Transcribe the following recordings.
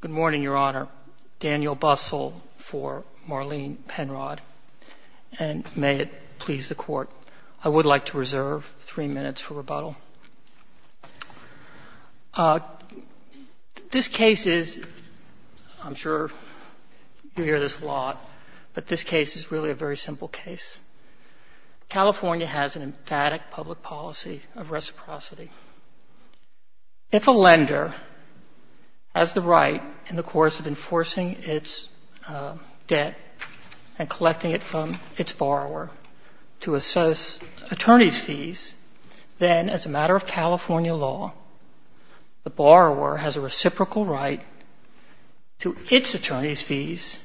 Good morning, Your Honor. Daniel Bustle for Marlene Penrod. And may it please the Court, I would like to reserve three minutes for rebuttal. This case is, I'm sure you hear this a lot, but this case is really a very simple case. California has an emphatic public policy of reciprocity. If a lender has the right, in the course of enforcing its debt and collecting it from its borrower to assess attorney's fees, then as a matter of California law, the borrower has a reciprocal right to its attorney's fees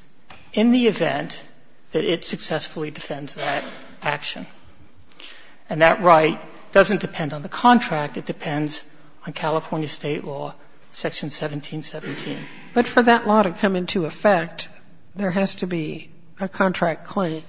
in the event that it successfully defends that action. And that right doesn't depend on the contract. It depends on California State law, Section 1717. But for that law to come into effect, there has to be a contract claim.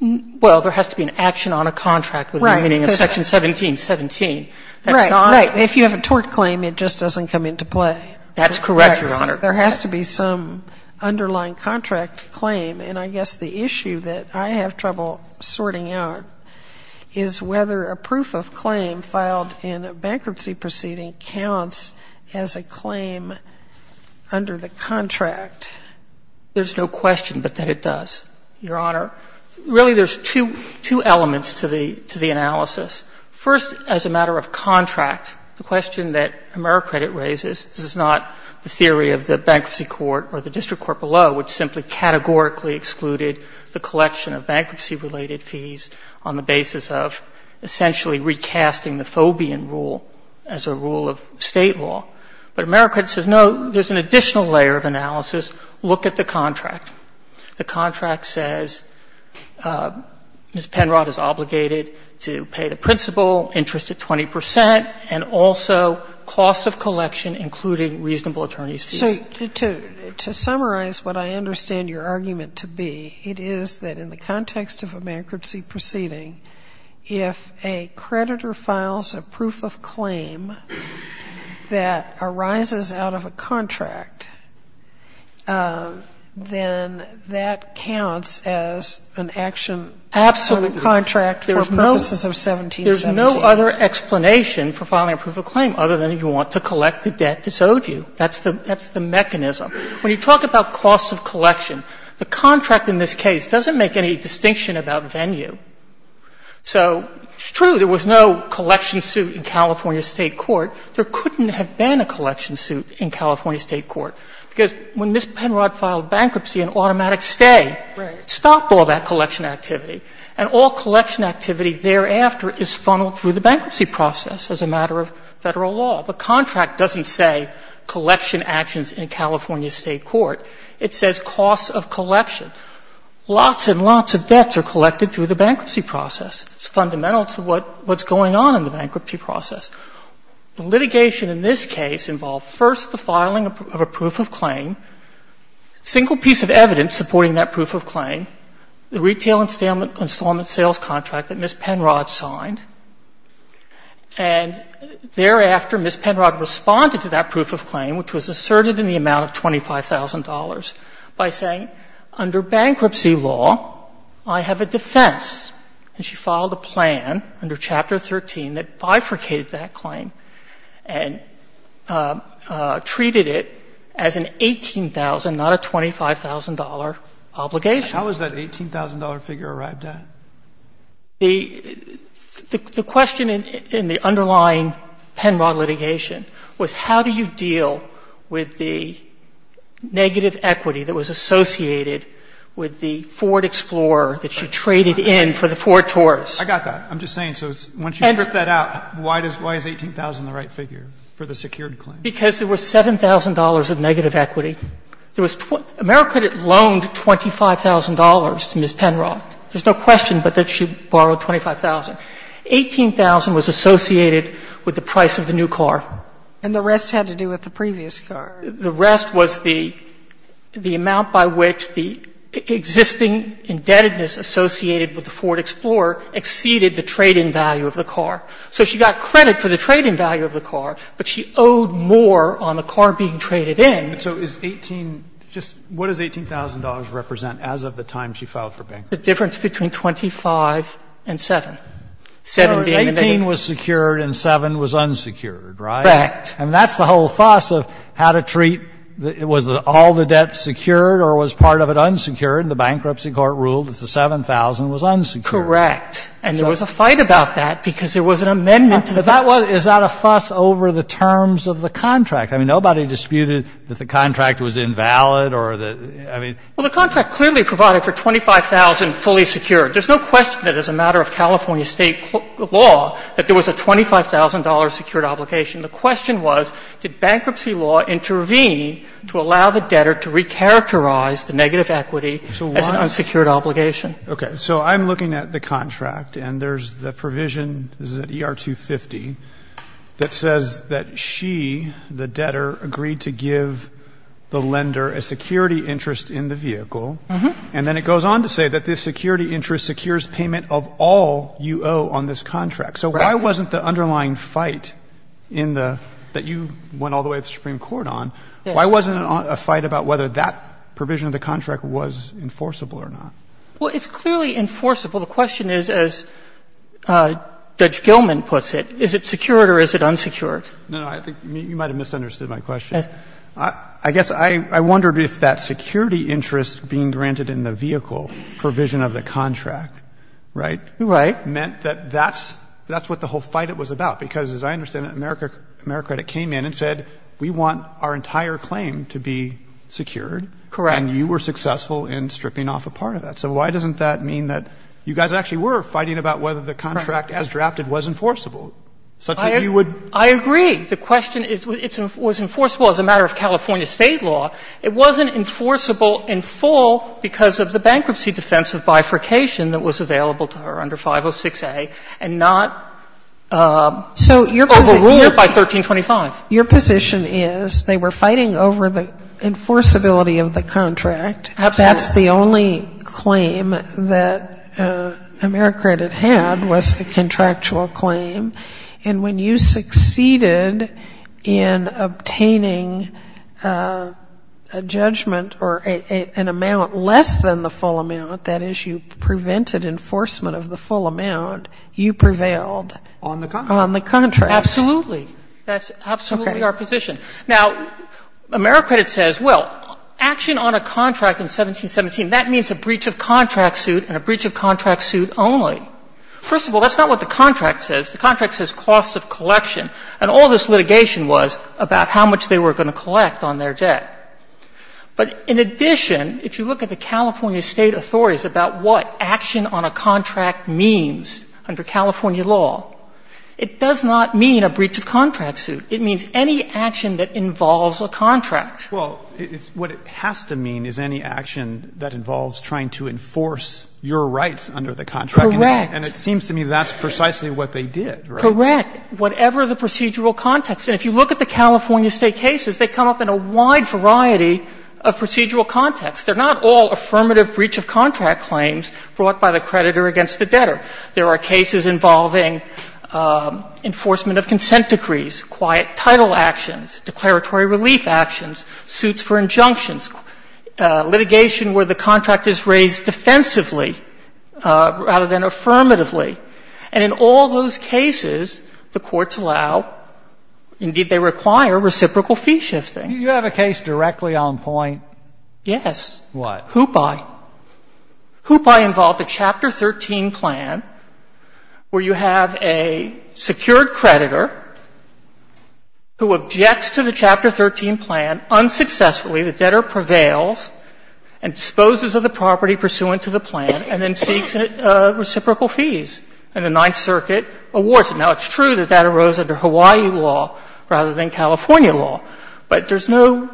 Well, there has to be an action on a contract with the meaning of Section 1717. That's not the case. Right, right. If you have a tort claim, it just doesn't come into play. That's correct, Your Honor. There has to be some underlying contract claim. And I guess the issue that I have trouble sorting out is whether a proof of claim filed in a bankruptcy proceeding counts as a claim under the contract. There's no question but that it does, Your Honor. Really, there's two elements to the analysis. First, as a matter of contract, the question that AmeriCredit raises, this is not the theory of the bankruptcy court or the district court below, which simply categorically excluded the collection of bankruptcy-related fees on the basis of essentially recasting the Fobian rule as a rule of State law. But AmeriCredit says, no, there's an additional layer of analysis. Look at the contract. The contract says Ms. Penrod is obligated to pay the principal interest at 20 percent and also cost of collection, including reasonable attorney's fees. So to summarize what I understand your argument to be, it is that in the context of a bankruptcy proceeding, if a creditor files a proof of claim that arises out of a contract, then that counts as an action under the contract. And that's the mechanism of the contract for purposes of 1717. There's no other explanation for filing a proof of claim other than you want to collect the debt that's owed you. That's the mechanism. When you talk about cost of collection, the contract in this case doesn't make any distinction about venue. So it's true there was no collection suit in California State court. There couldn't have been a collection suit in California State court, because when Ms. Penrod filed bankruptcy, an automatic stay stopped all that collection activity. And all collection activity thereafter is funneled through the bankruptcy process as a matter of Federal law. The contract doesn't say collection actions in California State court. It says cost of collection. Lots and lots of debts are collected through the bankruptcy process. It's fundamental to what's going on in the bankruptcy process. The litigation in this case involved first the filing of a proof of claim, single piece of evidence supporting that proof of claim, the retail installment sales contract that Ms. Penrod signed. And thereafter, Ms. Penrod responded to that proof of claim, which was asserted in the amount of $25,000, by saying, under bankruptcy law, I have a defense. And she filed a plan under Chapter 13 that bifurcated that claim and treated it as an $18,000, not a $25,000 obligation. How was that $18,000 figure arrived at? The question in the underlying Penrod litigation was how do you deal with the negative equity that was associated with the Ford Explorer that she traded in for the Ford Taurus? I got that. I'm just saying, so once you strip that out, why is $18,000 the right figure for the secured claim? Because there was $7,000 of negative equity. There was 20 — AmeriCredit loaned $25,000 to Ms. Penrod. There's no question but that she borrowed $25,000. $18,000 was associated with the price of the new car. And the rest had to do with the previous car. The rest was the amount by which the existing indebtedness associated with the Ford Explorer exceeded the trade-in value of the car. So she got credit for the trade-in value of the car, but she owed more on the car being traded in. So is 18 — just what does $18,000 represent as of the time she filed for bankruptcy? The difference between 25 and 7. 7 being the negative. So 18 was secured and 7 was unsecured, right? Correct. And that's the whole fuss of how to treat — was all the debt secured or was part of it unsecured? The bankruptcy court ruled that the 7,000 was unsecured. Correct. And there was a fight about that because there was an amendment to that. But that was — is that a fuss over the terms of the contract? I mean, nobody disputed that the contract was invalid or the — I mean — Well, the contract clearly provided for 25,000 fully secured. There's no question that as a matter of California State law that there was a $25,000 secured obligation. The question was, did bankruptcy law intervene to allow the debtor to recharacterize the negative equity as an unsecured obligation? Okay. So I'm looking at the contract, and there's the provision — this is at ER 250 — that says that she, the debtor, agreed to give the lender a security interest in the vehicle, and then it goes on to say that this security interest secures payment of all you owe on this contract. So why wasn't the underlying fight in the — that you went all the way to the Supreme Court on, why wasn't it a fight about whether that provision of the contract was enforceable or not? Well, it's clearly enforceable. The question is, as Judge Gilman puts it, is it secured or is it unsecured? No, no. I think you might have misunderstood my question. I guess I wondered if that security interest being granted in the vehicle provision of the contract, right, meant that that's — that's what the whole fight was about. Because as I understand it, AmeriCredit came in and said, we want our entire claim to be secured. Correct. And you were successful in stripping off a part of that. So why doesn't that mean that you guys actually were fighting about whether the contract as drafted was enforceable, such that you would — I agree. The question is, it was enforceable as a matter of California State law. It wasn't enforceable in full because of the bankruptcy defense of bifurcation that was available to her under 506a and not overruled by 1325. So your position is they were fighting over the enforceability of the contract Absolutely. That's the only claim that AmeriCredit had was a contractual claim. And when you succeeded in obtaining a judgment or an amount less than the full amount, that is, you prevented enforcement of the full amount, you prevailed on the contract. Absolutely. That's absolutely our position. Now, AmeriCredit says, well, action on a contract in 1717, that means a breach of contract suit and a breach of contract suit only. First of all, that's not what the contract says. The contract says costs of collection. And all this litigation was about how much they were going to collect on their debt. But in addition, if you look at the California State authorities about what action on a contract means under California law, it does not mean a breach of contract suit. It means any action that involves a contract. Well, what it has to mean is any action that involves trying to enforce your rights under the contract. Correct. And it seems to me that's precisely what they did. Correct. Whatever the procedural context. And if you look at the California State cases, they come up in a wide variety of procedural contexts. They're not all affirmative breach of contract claims brought by the creditor against the debtor. There are cases involving enforcement of consent decrees, quiet title actions, declaratory relief actions, suits for injunctions, litigation where the contract is raised defensively rather than affirmatively. And in all those cases, the courts allow, indeed, they require reciprocal fee shifting. You have a case directly on point? Yes. What? Hoopi. Hoopi involved a Chapter 13 plan where you have a secured creditor who objects to the Chapter 13 plan, unsuccessfully, the debtor prevails and disposes of the property pursuant to the plan, and then seeks reciprocal fees, and the Ninth Circuit awards it. Now, it's true that that arose under Hawaii law rather than California law, but there's no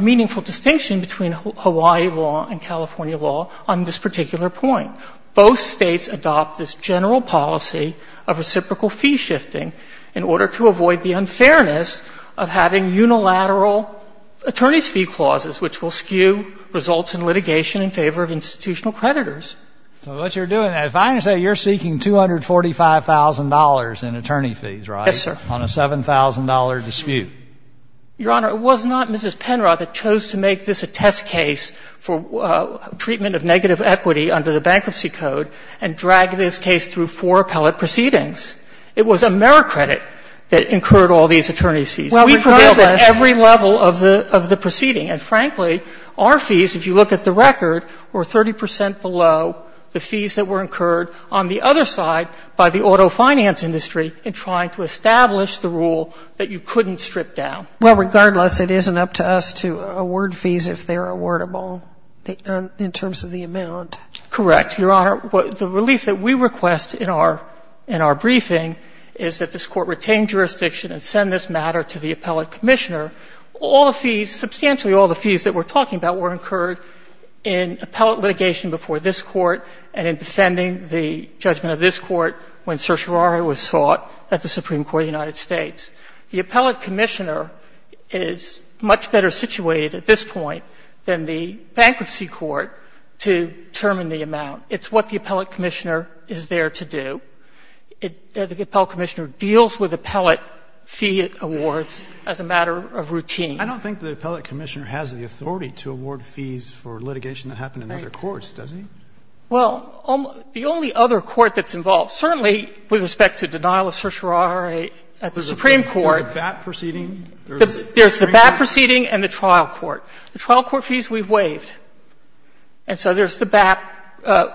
meaningful distinction between Hawaii law and California law on this particular point. Both States adopt this general policy of reciprocal fee shifting in order to avoid the unfairness of having unilateral attorney's fee clauses, which will skew results in litigation in favor of institutional creditors. So what you're doing, if I understand, you're seeking $245,000 in attorney fees, right? Yes, sir. On a $7,000 dispute. Your Honor, it was not Mrs. Penrod that chose to make this a test case for treatment of negative equity under the Bankruptcy Code and drag this case through four appellate proceedings. It was AmeriCredit that incurred all these attorney's fees. We prevailed at every level of the proceeding. And frankly, our fees, if you look at the record, were 30 percent below the fees that were incurred on the other side by the auto finance industry in trying to establish the rule that you couldn't strip down. Well, regardless, it isn't up to us to award fees if they're awardable in terms of the amount. Correct. Your Honor, the relief that we request in our briefing is that this Court retain jurisdiction and send this matter to the appellate commissioner. All the fees, substantially all the fees that we're talking about were incurred in appellate litigation before this Court and in defending the judgment of this case, the appellate commissioner is much better situated at this point than the bankruptcy court to determine the amount. It's what the appellate commissioner is there to do. The appellate commissioner deals with appellate fee awards as a matter of routine. I don't think the appellate commissioner has the authority to award fees for litigation that happened in other courts, does he? Well, the only other court that's involved, certainly with respect to denial of certiorari at the Supreme Court. There's a BAP proceeding? There's the BAP proceeding and the trial court. The trial court fees we've waived. And so there's the BAP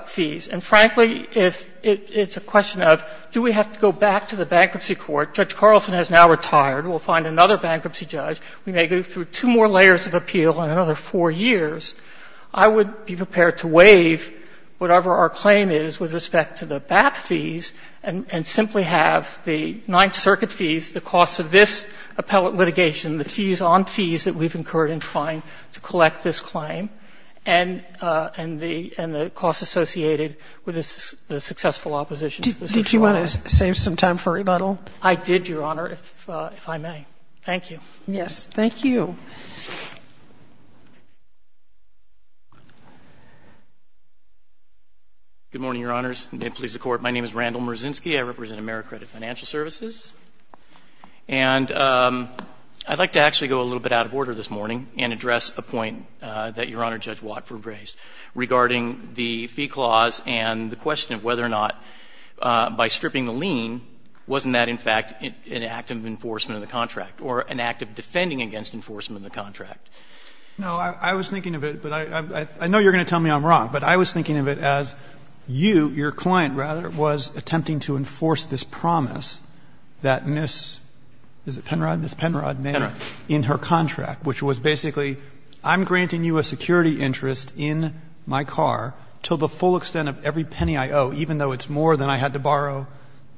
fees. And frankly, if it's a question of do we have to go back to the bankruptcy court? Judge Carlson has now retired. We'll find another bankruptcy judge. We may go through two more layers of appeal in another four years. I would be prepared to waive whatever our claim is with respect to the BAP fees and simply have the Ninth Circuit fees, the costs of this appellate litigation, the fees on fees that we've incurred in trying to collect this claim, and the costs associated with the successful opposition. Did you want to save some time for rebuttal? I did, Your Honor, if I may. Thank you. Yes. Good morning, Your Honors, and may it please the Court. My name is Randall Merzinski. I represent AmeriCredit Financial Services. And I'd like to actually go a little bit out of order this morning and address a point that Your Honor Judge Watford raised regarding the fee clause and the question of whether or not by stripping the lien, wasn't that, in fact, an act of enforcement of the contract or an act of defending against enforcement of the contract? No. I was thinking of it, but I know you're going to tell me I'm wrong, but I was thinking of it as you, your client, rather, was attempting to enforce this promise that Ms. Is it Penrod? Ms. Penrod made in her contract, which was basically, I'm granting you a security interest in my car until the full extent of every penny I owe, even though it's more than I had to borrow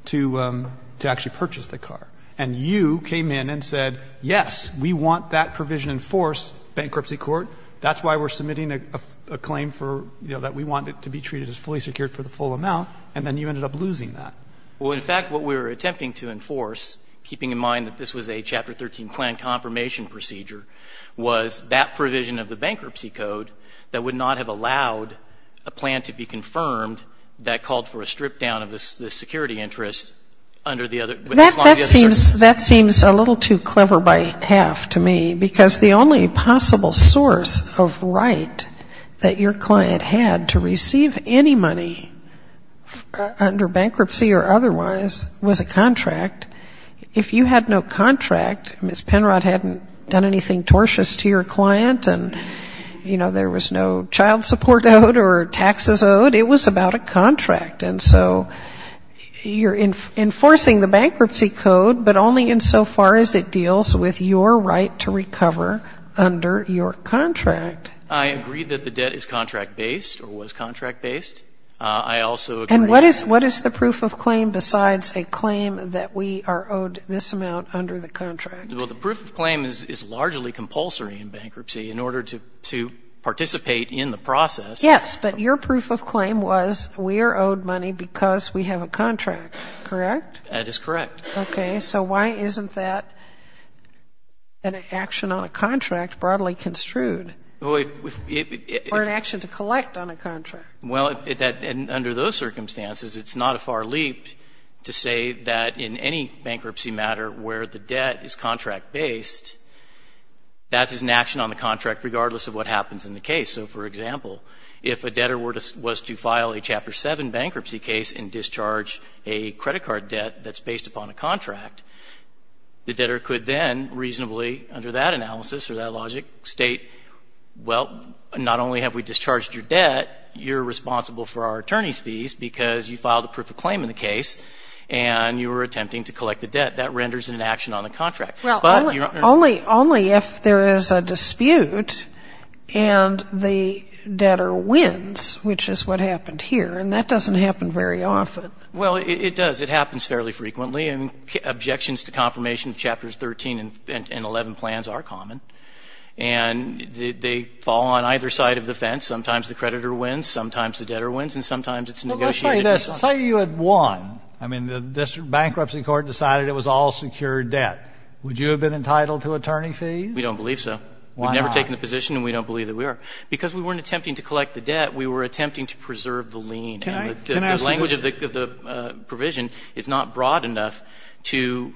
to actually purchase the car. And you came in and said, yes, we want that provision enforced, Bankruptcy Court. That's why we're submitting a claim for, you know, that we want it to be treated as fully secured for the full amount, and then you ended up losing that. Well, in fact, what we were attempting to enforce, keeping in mind that this was a Chapter 13 plan confirmation procedure, was that provision of the bankruptcy code that would not have allowed a plan to be confirmed that called for a strip down of the security interest under the other, as long as the other services. That seems a little too clever by half to me, because the only possible source of right that your client had to receive any money under bankruptcy or otherwise was a contract. If you had no contract, Ms. Penrod hadn't done anything tortious to your client, and, you know, there was no child support owed or taxes owed, it was about a contract. And so you're enforcing the bankruptcy code, but only insofar as it deals with your right to recover under your contract. I agree that the debt is contract-based, or was contract-based. I also agree that the debt is contract-based. And what is the proof of claim besides a claim that we are owed this amount under the contract? Well, the proof of claim is largely compulsory in bankruptcy. In order to participate in the process Yes, but your proof of claim was we are owed money because we have a contract, correct? That is correct. Okay. So why isn't that an action on a contract broadly construed, or an action to collect on a contract? Well, under those circumstances, it's not a far leap to say that in any bankruptcy matter where the debt is contract-based, that is an action on the contract regardless of what happens in the case. So for example, if a debtor was to file a Chapter 7 bankruptcy case and discharge a credit card debt that's based upon a contract, the debtor could then reasonably under that analysis or that logic state, well, not only have we discharged your debt, you're responsible for our attorney's fees because you filed a proof of claim in the case and you were attempting to collect the debt. That renders an action on the contract. Well, only if there is a dispute and the debtor wins, which is what happened here, and that doesn't happen very often. Well, it does. It happens fairly frequently, and objections to confirmation of Chapters 13 and 11 plans are common, and they fall on either side of the fence. Sometimes the creditor wins, sometimes the debtor wins, and sometimes it's negotiated between the two. Well, let's say this. Say you had won. I mean, the District Bankruptcy Court decided it was all secured debt. Would you have been entitled to attorney fees? We don't believe so. Why not? We've never taken the position, and we don't believe that we are. Because we weren't attempting to collect the debt. We were attempting to preserve the lien, and the language of the provision is not broad enough to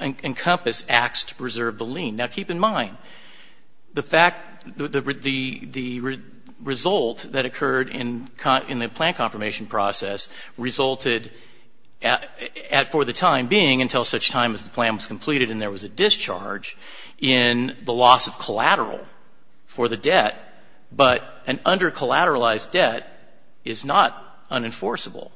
encompass acts to preserve the lien. Now, keep in mind, the result that occurred in the plan confirmation process resulted in, for the time being, until such time as the plan was completed and there was a discharge, in the loss of collateral for the debt. But an under-collateralized debt is not unenforceable.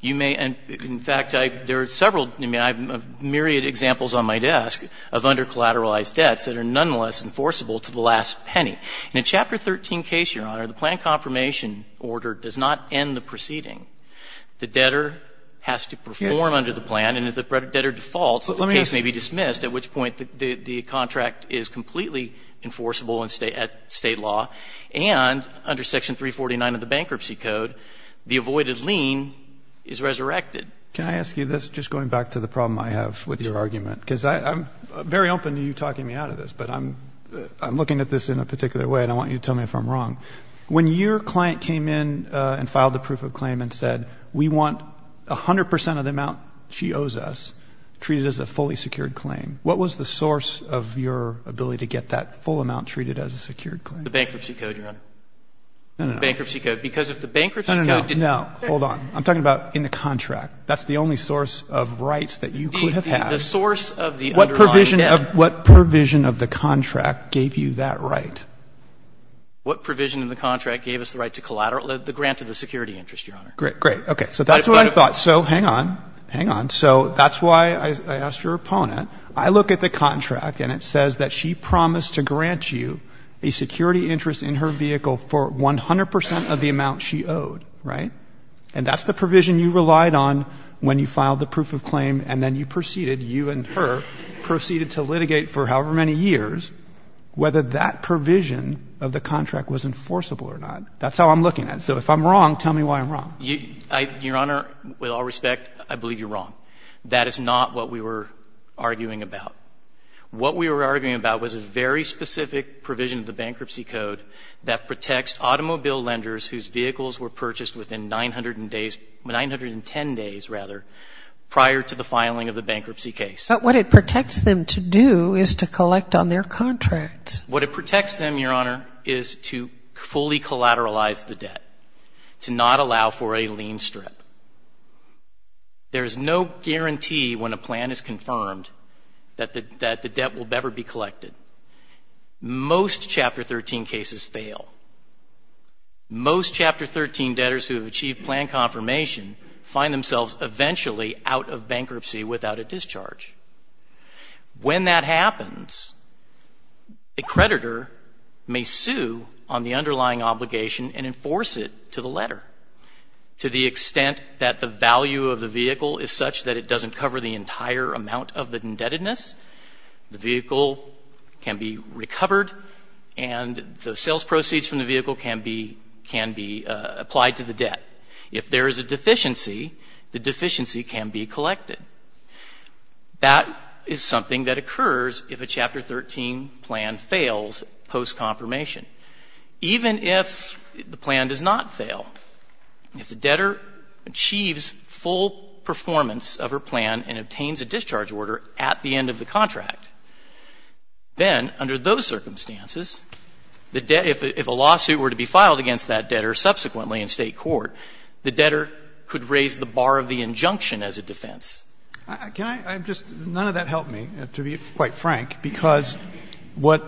You may, in fact, there are several, I mean, I have a myriad of examples on my desk of under-collateralized debts that are nonetheless enforceable to the last penny. In a Chapter 13 case, Your Honor, the plan confirmation order does not end the proceeding. The debtor has to perform under the plan, and if the debtor defaults, the case may be dismissed, at which point the contract is completely enforceable at state law. And under Section 349 of the Bankruptcy Code, the avoided lien is resurrected. Can I ask you this, just going back to the problem I have with your argument? Because I'm very open to you talking me out of this, but I'm looking at this in a particular way, and I want you to tell me if I'm wrong. When your client came in and filed a proof of claim and said, we want 100 percent of the amount she owes us treated as a fully secured claim, what was the source of your ability to get that full amount treated as a secured claim? The Bankruptcy Code, Your Honor. No, no. The Bankruptcy Code. Because if the Bankruptcy Code didn't... No, no, no. Hold on. I'm talking about in the contract. That's the only source of rights that you could have had. The source of the underlying debt. What provision of the contract gave you that right? What provision of the contract gave us the right to collateralize the grant of the security interest, Your Honor? Great, great. Okay. So that's what I thought. So hang on. Hang on. So that's why I asked your opponent. I look at the contract, and it says that she promised to grant you a security interest in her vehicle for 100 percent of the amount she owed, right? And that's the provision you relied on when you filed the proof of claim, and then you to litigate for however many years whether that provision of the contract was enforceable or not. That's how I'm looking at it. So if I'm wrong, tell me why I'm wrong. Your Honor, with all respect, I believe you're wrong. That is not what we were arguing about. What we were arguing about was a very specific provision of the Bankruptcy Code that protects automobile lenders whose vehicles were purchased within 900 days, 910 days, rather, prior to the filing of the bankruptcy case. But what it protects them to do is to collect on their contracts. What it protects them, Your Honor, is to fully collateralize the debt, to not allow for a lien strip. There is no guarantee when a plan is confirmed that the debt will ever be collected. Most Chapter 13 cases fail. Most Chapter 13 debtors who have achieved plan confirmation find themselves eventually out of bankruptcy without a discharge. When that happens, a creditor may sue on the underlying obligation and enforce it to the letter, to the extent that the value of the vehicle is such that it doesn't cover the entire amount of the indebtedness. The vehicle can be recovered, and the sales proceeds from the vehicle can be applied to the debt. If there is a deficiency, the deficiency can be collected. That is something that occurs if a Chapter 13 plan fails post-confirmation. Even if the plan does not fail, if the debtor achieves full performance of her plan and obtains a discharge order at the end of the contract, then under those circumstances, if a lawsuit were to be filed against that debtor subsequently in state court, the debtor could raise the bar of the injunction as a defense. Can I just — none of that helped me, to be quite frank, because what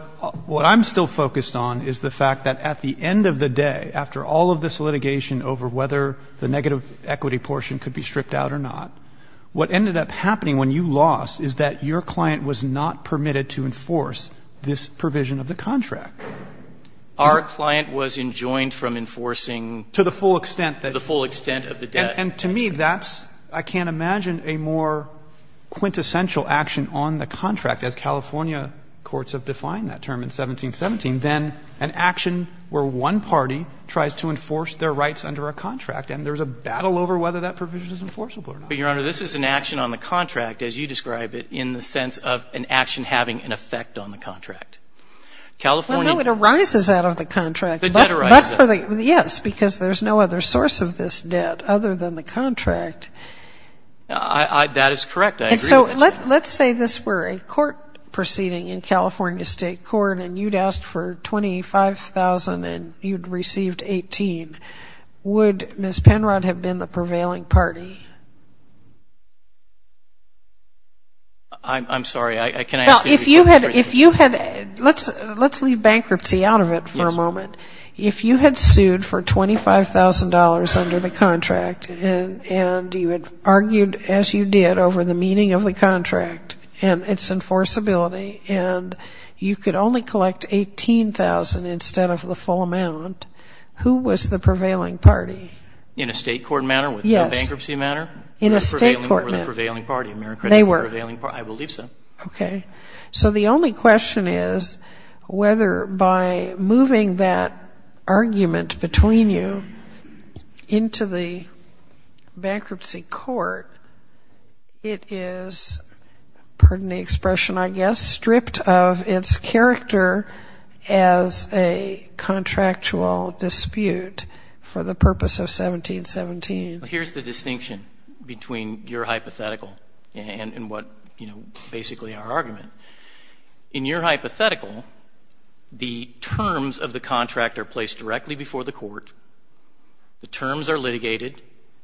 I'm still focused on is the fact that at the end of the day, after all of this litigation over whether the negative equity portion could be stripped out or not, what ended up happening when you lost is that your client was not permitted to enforce this provision of the contract. Our client was enjoined from enforcing the full extent of the debt. And to me, that's — I can't imagine a more quintessential action on the contract, as California courts have defined that term in 1717, than an action where one party tries to enforce their rights under a contract. And there's a battle over whether that provision is enforceable or not. But, Your Honor, this is an action on the contract, as you describe it, in the sense of an action having an effect on the contract. California — Well, no. It arises out of the contract. The debt arises out of it. But for the — yes. Because there's no other source of this debt other than the contract. That is correct. I agree with it. And so let's say this were a court proceeding in California State Court, and you'd asked for $25,000, and you'd received $18,000. Would Ms. Penrod have been the prevailing party? I'm sorry, I can't answer your question. If you had — let's leave bankruptcy out of it for a moment. If you had sued for $25,000 under the contract, and you had argued, as you did, over the meaning of the contract and its enforceability, and you could only collect $18,000 instead of the full amount, who was the prevailing party? In a state court manner? Yes. With no bankruptcy manner? In a state court manner. Who were the prevailing party? They were. I believe so. Okay. So the only question is whether by moving that argument between you into the bankruptcy court, it is — pardon the expression, I guess — stripped of its character as a contractual dispute for the purpose of 1717. Here's the distinction between your hypothetical and what, you know, basically our argument. In your hypothetical, the terms of the contract are placed directly before the court,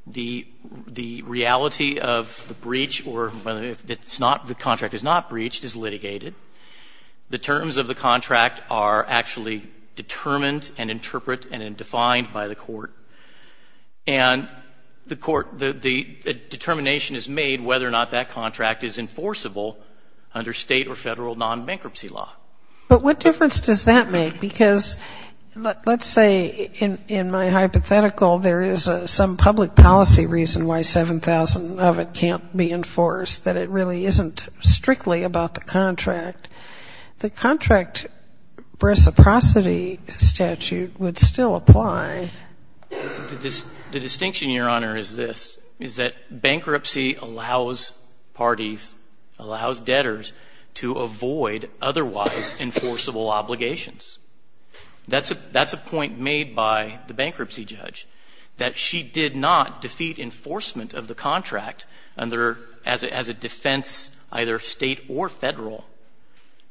the reality of the breach, or whether it's not — the contract is not breached, is litigated. The terms of the contract are actually determined and interpret and defined by the court. And the court — the determination is made whether or not that contract is enforceable under state or federal non-bankruptcy law. But what difference does that make? Because let's say in my hypothetical there is some public policy reason why 7,000 of it can't be enforced, that it really isn't strictly about the contract. The contract reciprocity statute would still apply. The distinction, Your Honor, is this, is that bankruptcy allows parties, allows debtors, to avoid otherwise enforceable obligations. That's a point made by the bankruptcy judge, that she did not defeat enforcement of the contract under — as a defense either state or federal.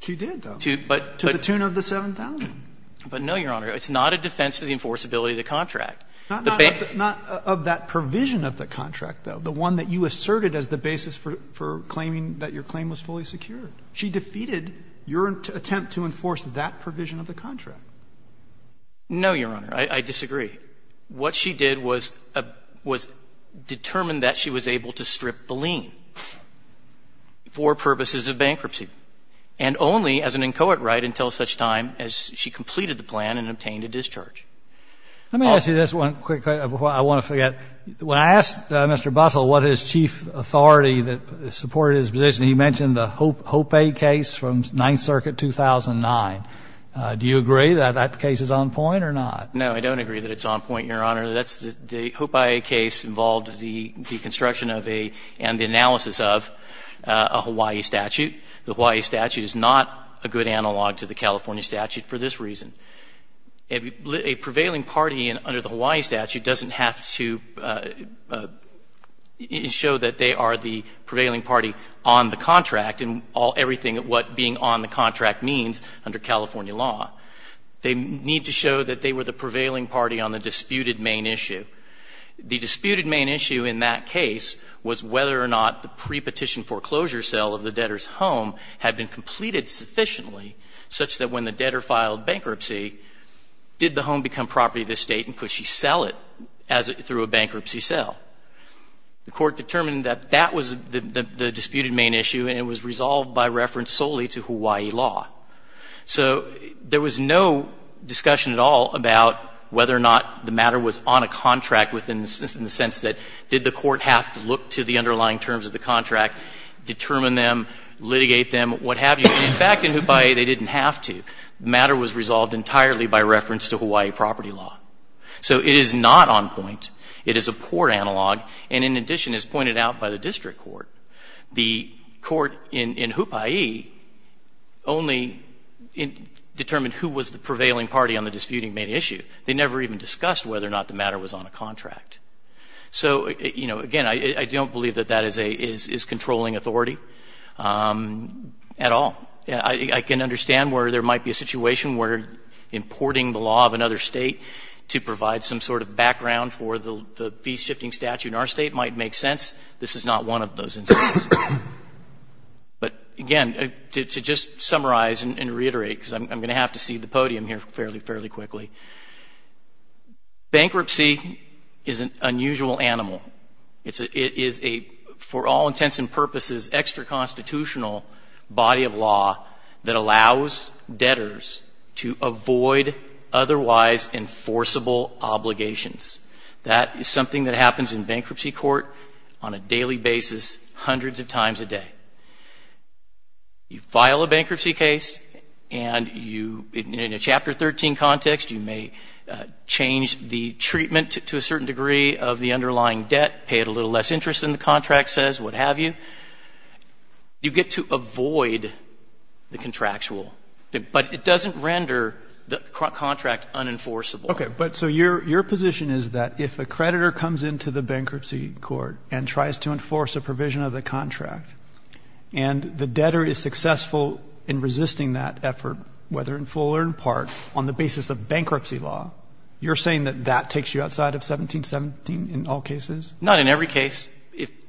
To the tune of the 7,000. But no, Your Honor, it's not a defense to the enforceability of the contract. Not of that provision of the contract, though, the one that you asserted as the basis for claiming that your claim was fully secured. She defeated your attempt to enforce that provision of the contract. No, Your Honor. I disagree. What she did was determine that she was able to strip the lien for purposes of bankruptcy, and only as an inchoate right until such time as she completed the plan and obtained a discharge. Let me ask you this one quick, because I want to forget. When I asked Mr. Bussell what his chief authority that supported his position, he mentioned the Hope A case from Ninth Circuit 2009. Do you agree that that case is on point or not? No, I don't agree that it's on point, Your Honor. That's the — the Hope A case involved the construction of a — and the analysis of a Hawaii statute. The Hawaii statute is not a good analog to the California statute for this reason. A prevailing party under the Hawaii statute doesn't have to show that they are the prevailing party on the contract and all — everything that what being on the contract means under California law. They need to show that they were the prevailing party on the disputed main issue. The disputed main issue in that case was whether or not the pre-petition foreclosure sale of the debtor's home had been completed sufficiently such that when the debtor filed bankruptcy, did the home become property of the State, and could she sell it as — through a bankruptcy sale? The Court determined that that was the disputed main issue, and it was resolved by reference solely to Hawaii law. So there was no discussion at all about whether or not the matter was on a contract within the — in the sense that did the Court have to look to the underlying terms of the contract, determine them, litigate them, what have you? In fact, in Hupai'i, they didn't have to. The matter was resolved entirely by reference to Hawaii property law. So it is not on point. It is a poor analog, and in addition, as pointed out by the District Court, the Court in Hupai'i only determined who was the prevailing party on the disputed main issue. They never even discussed whether or not the matter was on a contract. So, you know, again, I don't believe that that is a — is controlling authority at all. I can understand where there might be a situation where importing the law of another State to provide some sort of background for the fee-shifting statute in our State might make sense. This is not one of those instances. But again, to just summarize and reiterate, because I'm going to have to cede the podium here fairly quickly, bankruptcy is an unusual animal. It is a, for all intents and purposes, extra-constitutional body of law that allows debtors to avoid otherwise enforceable obligations. That is something that happens in bankruptcy court on a daily basis, hundreds of times a day. You file a bankruptcy case, and you — in a Chapter 13 context, you may change the treatment to a certain degree of the underlying debt, pay it a little less interest than the contract says, what have you. You get to avoid the contractual. But it doesn't render the contract unenforceable. Okay. But so your position is that if a creditor comes into the bankruptcy court and tries to enforce a provision of the contract, and the debtor is successful in resisting that effort, whether in full or in part, on the basis of bankruptcy law, you're saying that that takes you outside of 1717 in all cases? Not in every case.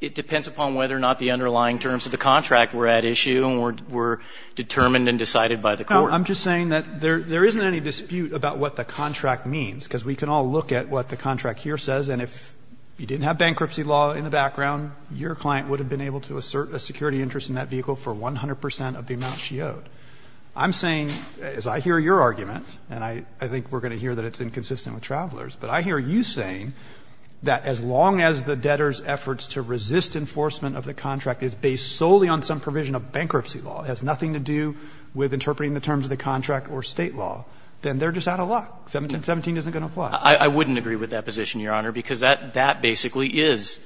It depends upon whether or not the underlying terms of the contract were at issue and were determined and decided by the court. No. I'm just saying that there isn't any dispute about what the contract means, because we can all look at what the contract here says, and if you didn't have bankruptcy law in the background, your client would have been able to assert a security interest in that vehicle for 100 percent of the amount she owed. I'm saying, as I hear your argument, and I think we're going to hear that it's inconsistent with Travelers, but I hear you saying that as long as the debtor's efforts to resist enforcement of the contract is based solely on some provision of bankruptcy law, it has nothing to do with interpreting the terms of the contract or State law, then they're just out of luck. 1717 isn't going to apply. I wouldn't agree with that position, Your Honor, because that basically is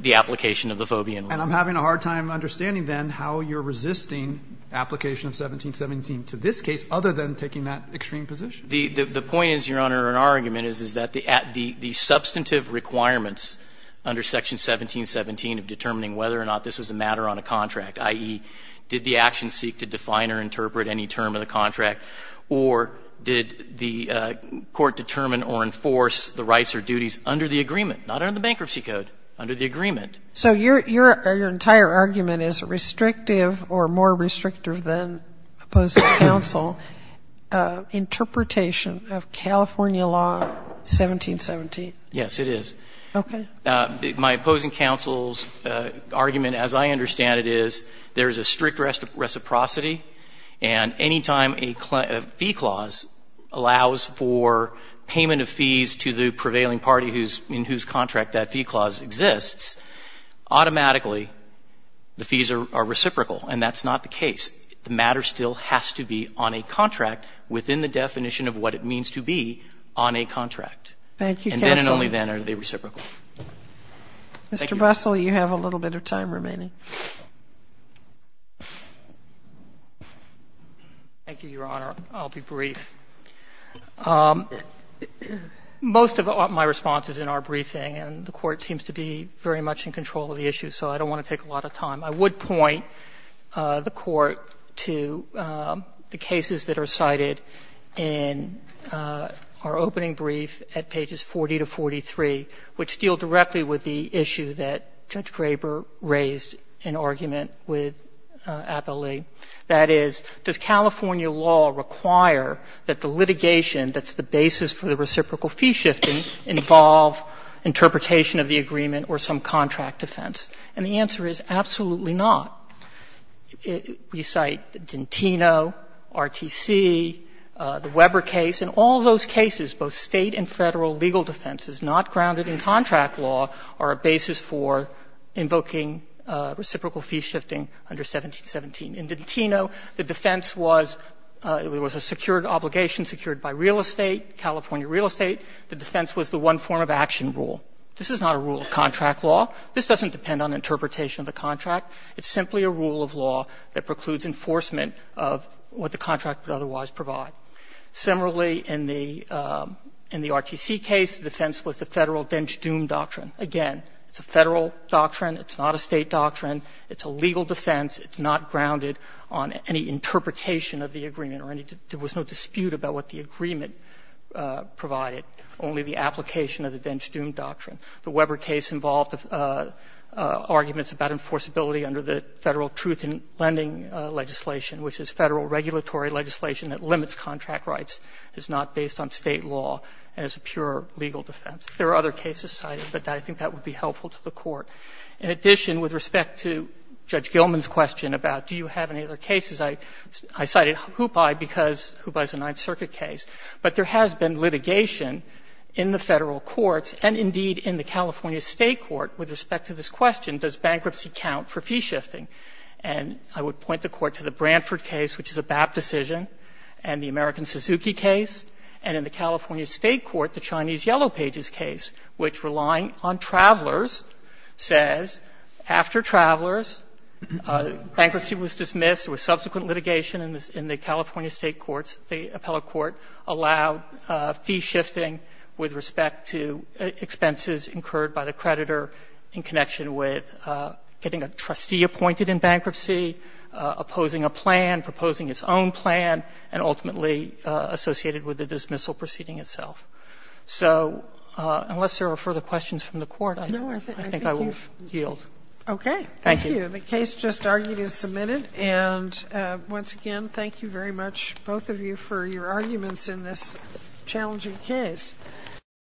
the application of the Fobian rule. And I'm having a hard time understanding, then, how you're resisting application of 1717 to this case other than taking that extreme position. The point is, Your Honor, in our argument is that the substantive requirements under Section 1717 of determining whether or not this was a matter on a contract, i.e., did the action seek to define or interpret any term of the contract, or did the action seek to enforce the rights or duties under the agreement, not under the Bankruptcy Code, under the agreement. So your entire argument is restrictive or more restrictive than opposing counsel interpretation of California law 1717. Yes, it is. Okay. My opposing counsel's argument, as I understand it, is there is a strict reciprocity, and any time a fee clause allows for payment of fees to the prevailing party in whose contract that fee clause exists, automatically the fees are reciprocal. And that's not the case. The matter still has to be on a contract within the definition of what it means to be on a contract. Thank you, counsel. And then and only then are they reciprocal. Mr. Bussle, you have a little bit of time remaining. Thank you, Your Honor. I'll be brief. Most of my response is in our briefing, and the Court seems to be very much in control of the issue, so I don't want to take a lot of time. I would point the Court to the cases that are cited in our opening brief at pages 40 to 43, which deal directly with the issue that Judge Graber raised in argument with Appellee, that is, does California law require that the litigation that's the basis for the reciprocal fee shifting involve interpretation of the agreement or some contract defense? And the answer is absolutely not. We cite Gentino, RTC, the Weber case. In all those cases, both State and Federal legal defense is not grounded in contract law or a basis for invoking reciprocal fee shifting under 1717. In Gentino, the defense was it was a secured obligation, secured by real estate, California real estate. The defense was the one form of action rule. This is not a rule of contract law. This doesn't depend on interpretation of the contract. It's simply a rule of law that precludes enforcement of what the contract would otherwise provide. Similarly, in the RTC case, the defense was the Federal dench-doom doctrine. Again, it's a Federal doctrine. It's not a State doctrine. It's a legal defense. It's not grounded on any interpretation of the agreement or any – there was no dispute about what the agreement provided, only the application of the dench-doom doctrine. The Weber case involved arguments about enforceability under the Federal truth in lending legislation, which is Federal regulatory legislation that limits contract rights, is not based on State law, and is a pure legal defense. There are other cases cited, but I think that would be helpful to the Court. In addition, with respect to Judge Gilman's question about do you have any other cases, I cited Hoopi because Hoopi is a Ninth Circuit case. But there has been litigation in the Federal courts and, indeed, in the California State court with respect to this question, does bankruptcy count for fee shifting? And I would point the Court to the Brantford case, which is a BAP decision, and the American Suzuki case, and in the California State court, the Chinese Yellow Pages case, which, relying on travelers, says after travelers, bankruptcy was dismissed with subsequent litigation in the California State courts, the appellate court allowed fee shifting with respect to expenses incurred by the creditor in connection with getting a trustee appointed in bankruptcy, opposing a plan, proposing its own plan, and ultimately associated with the dismissal proceeding itself. So unless there are further questions from the Court, I think I will yield. Sotomayor, I think you've got it. Okay. Thank you. And the case just argued is submitted. And once again, thank you very much, both of you, for your arguments in this challenging case.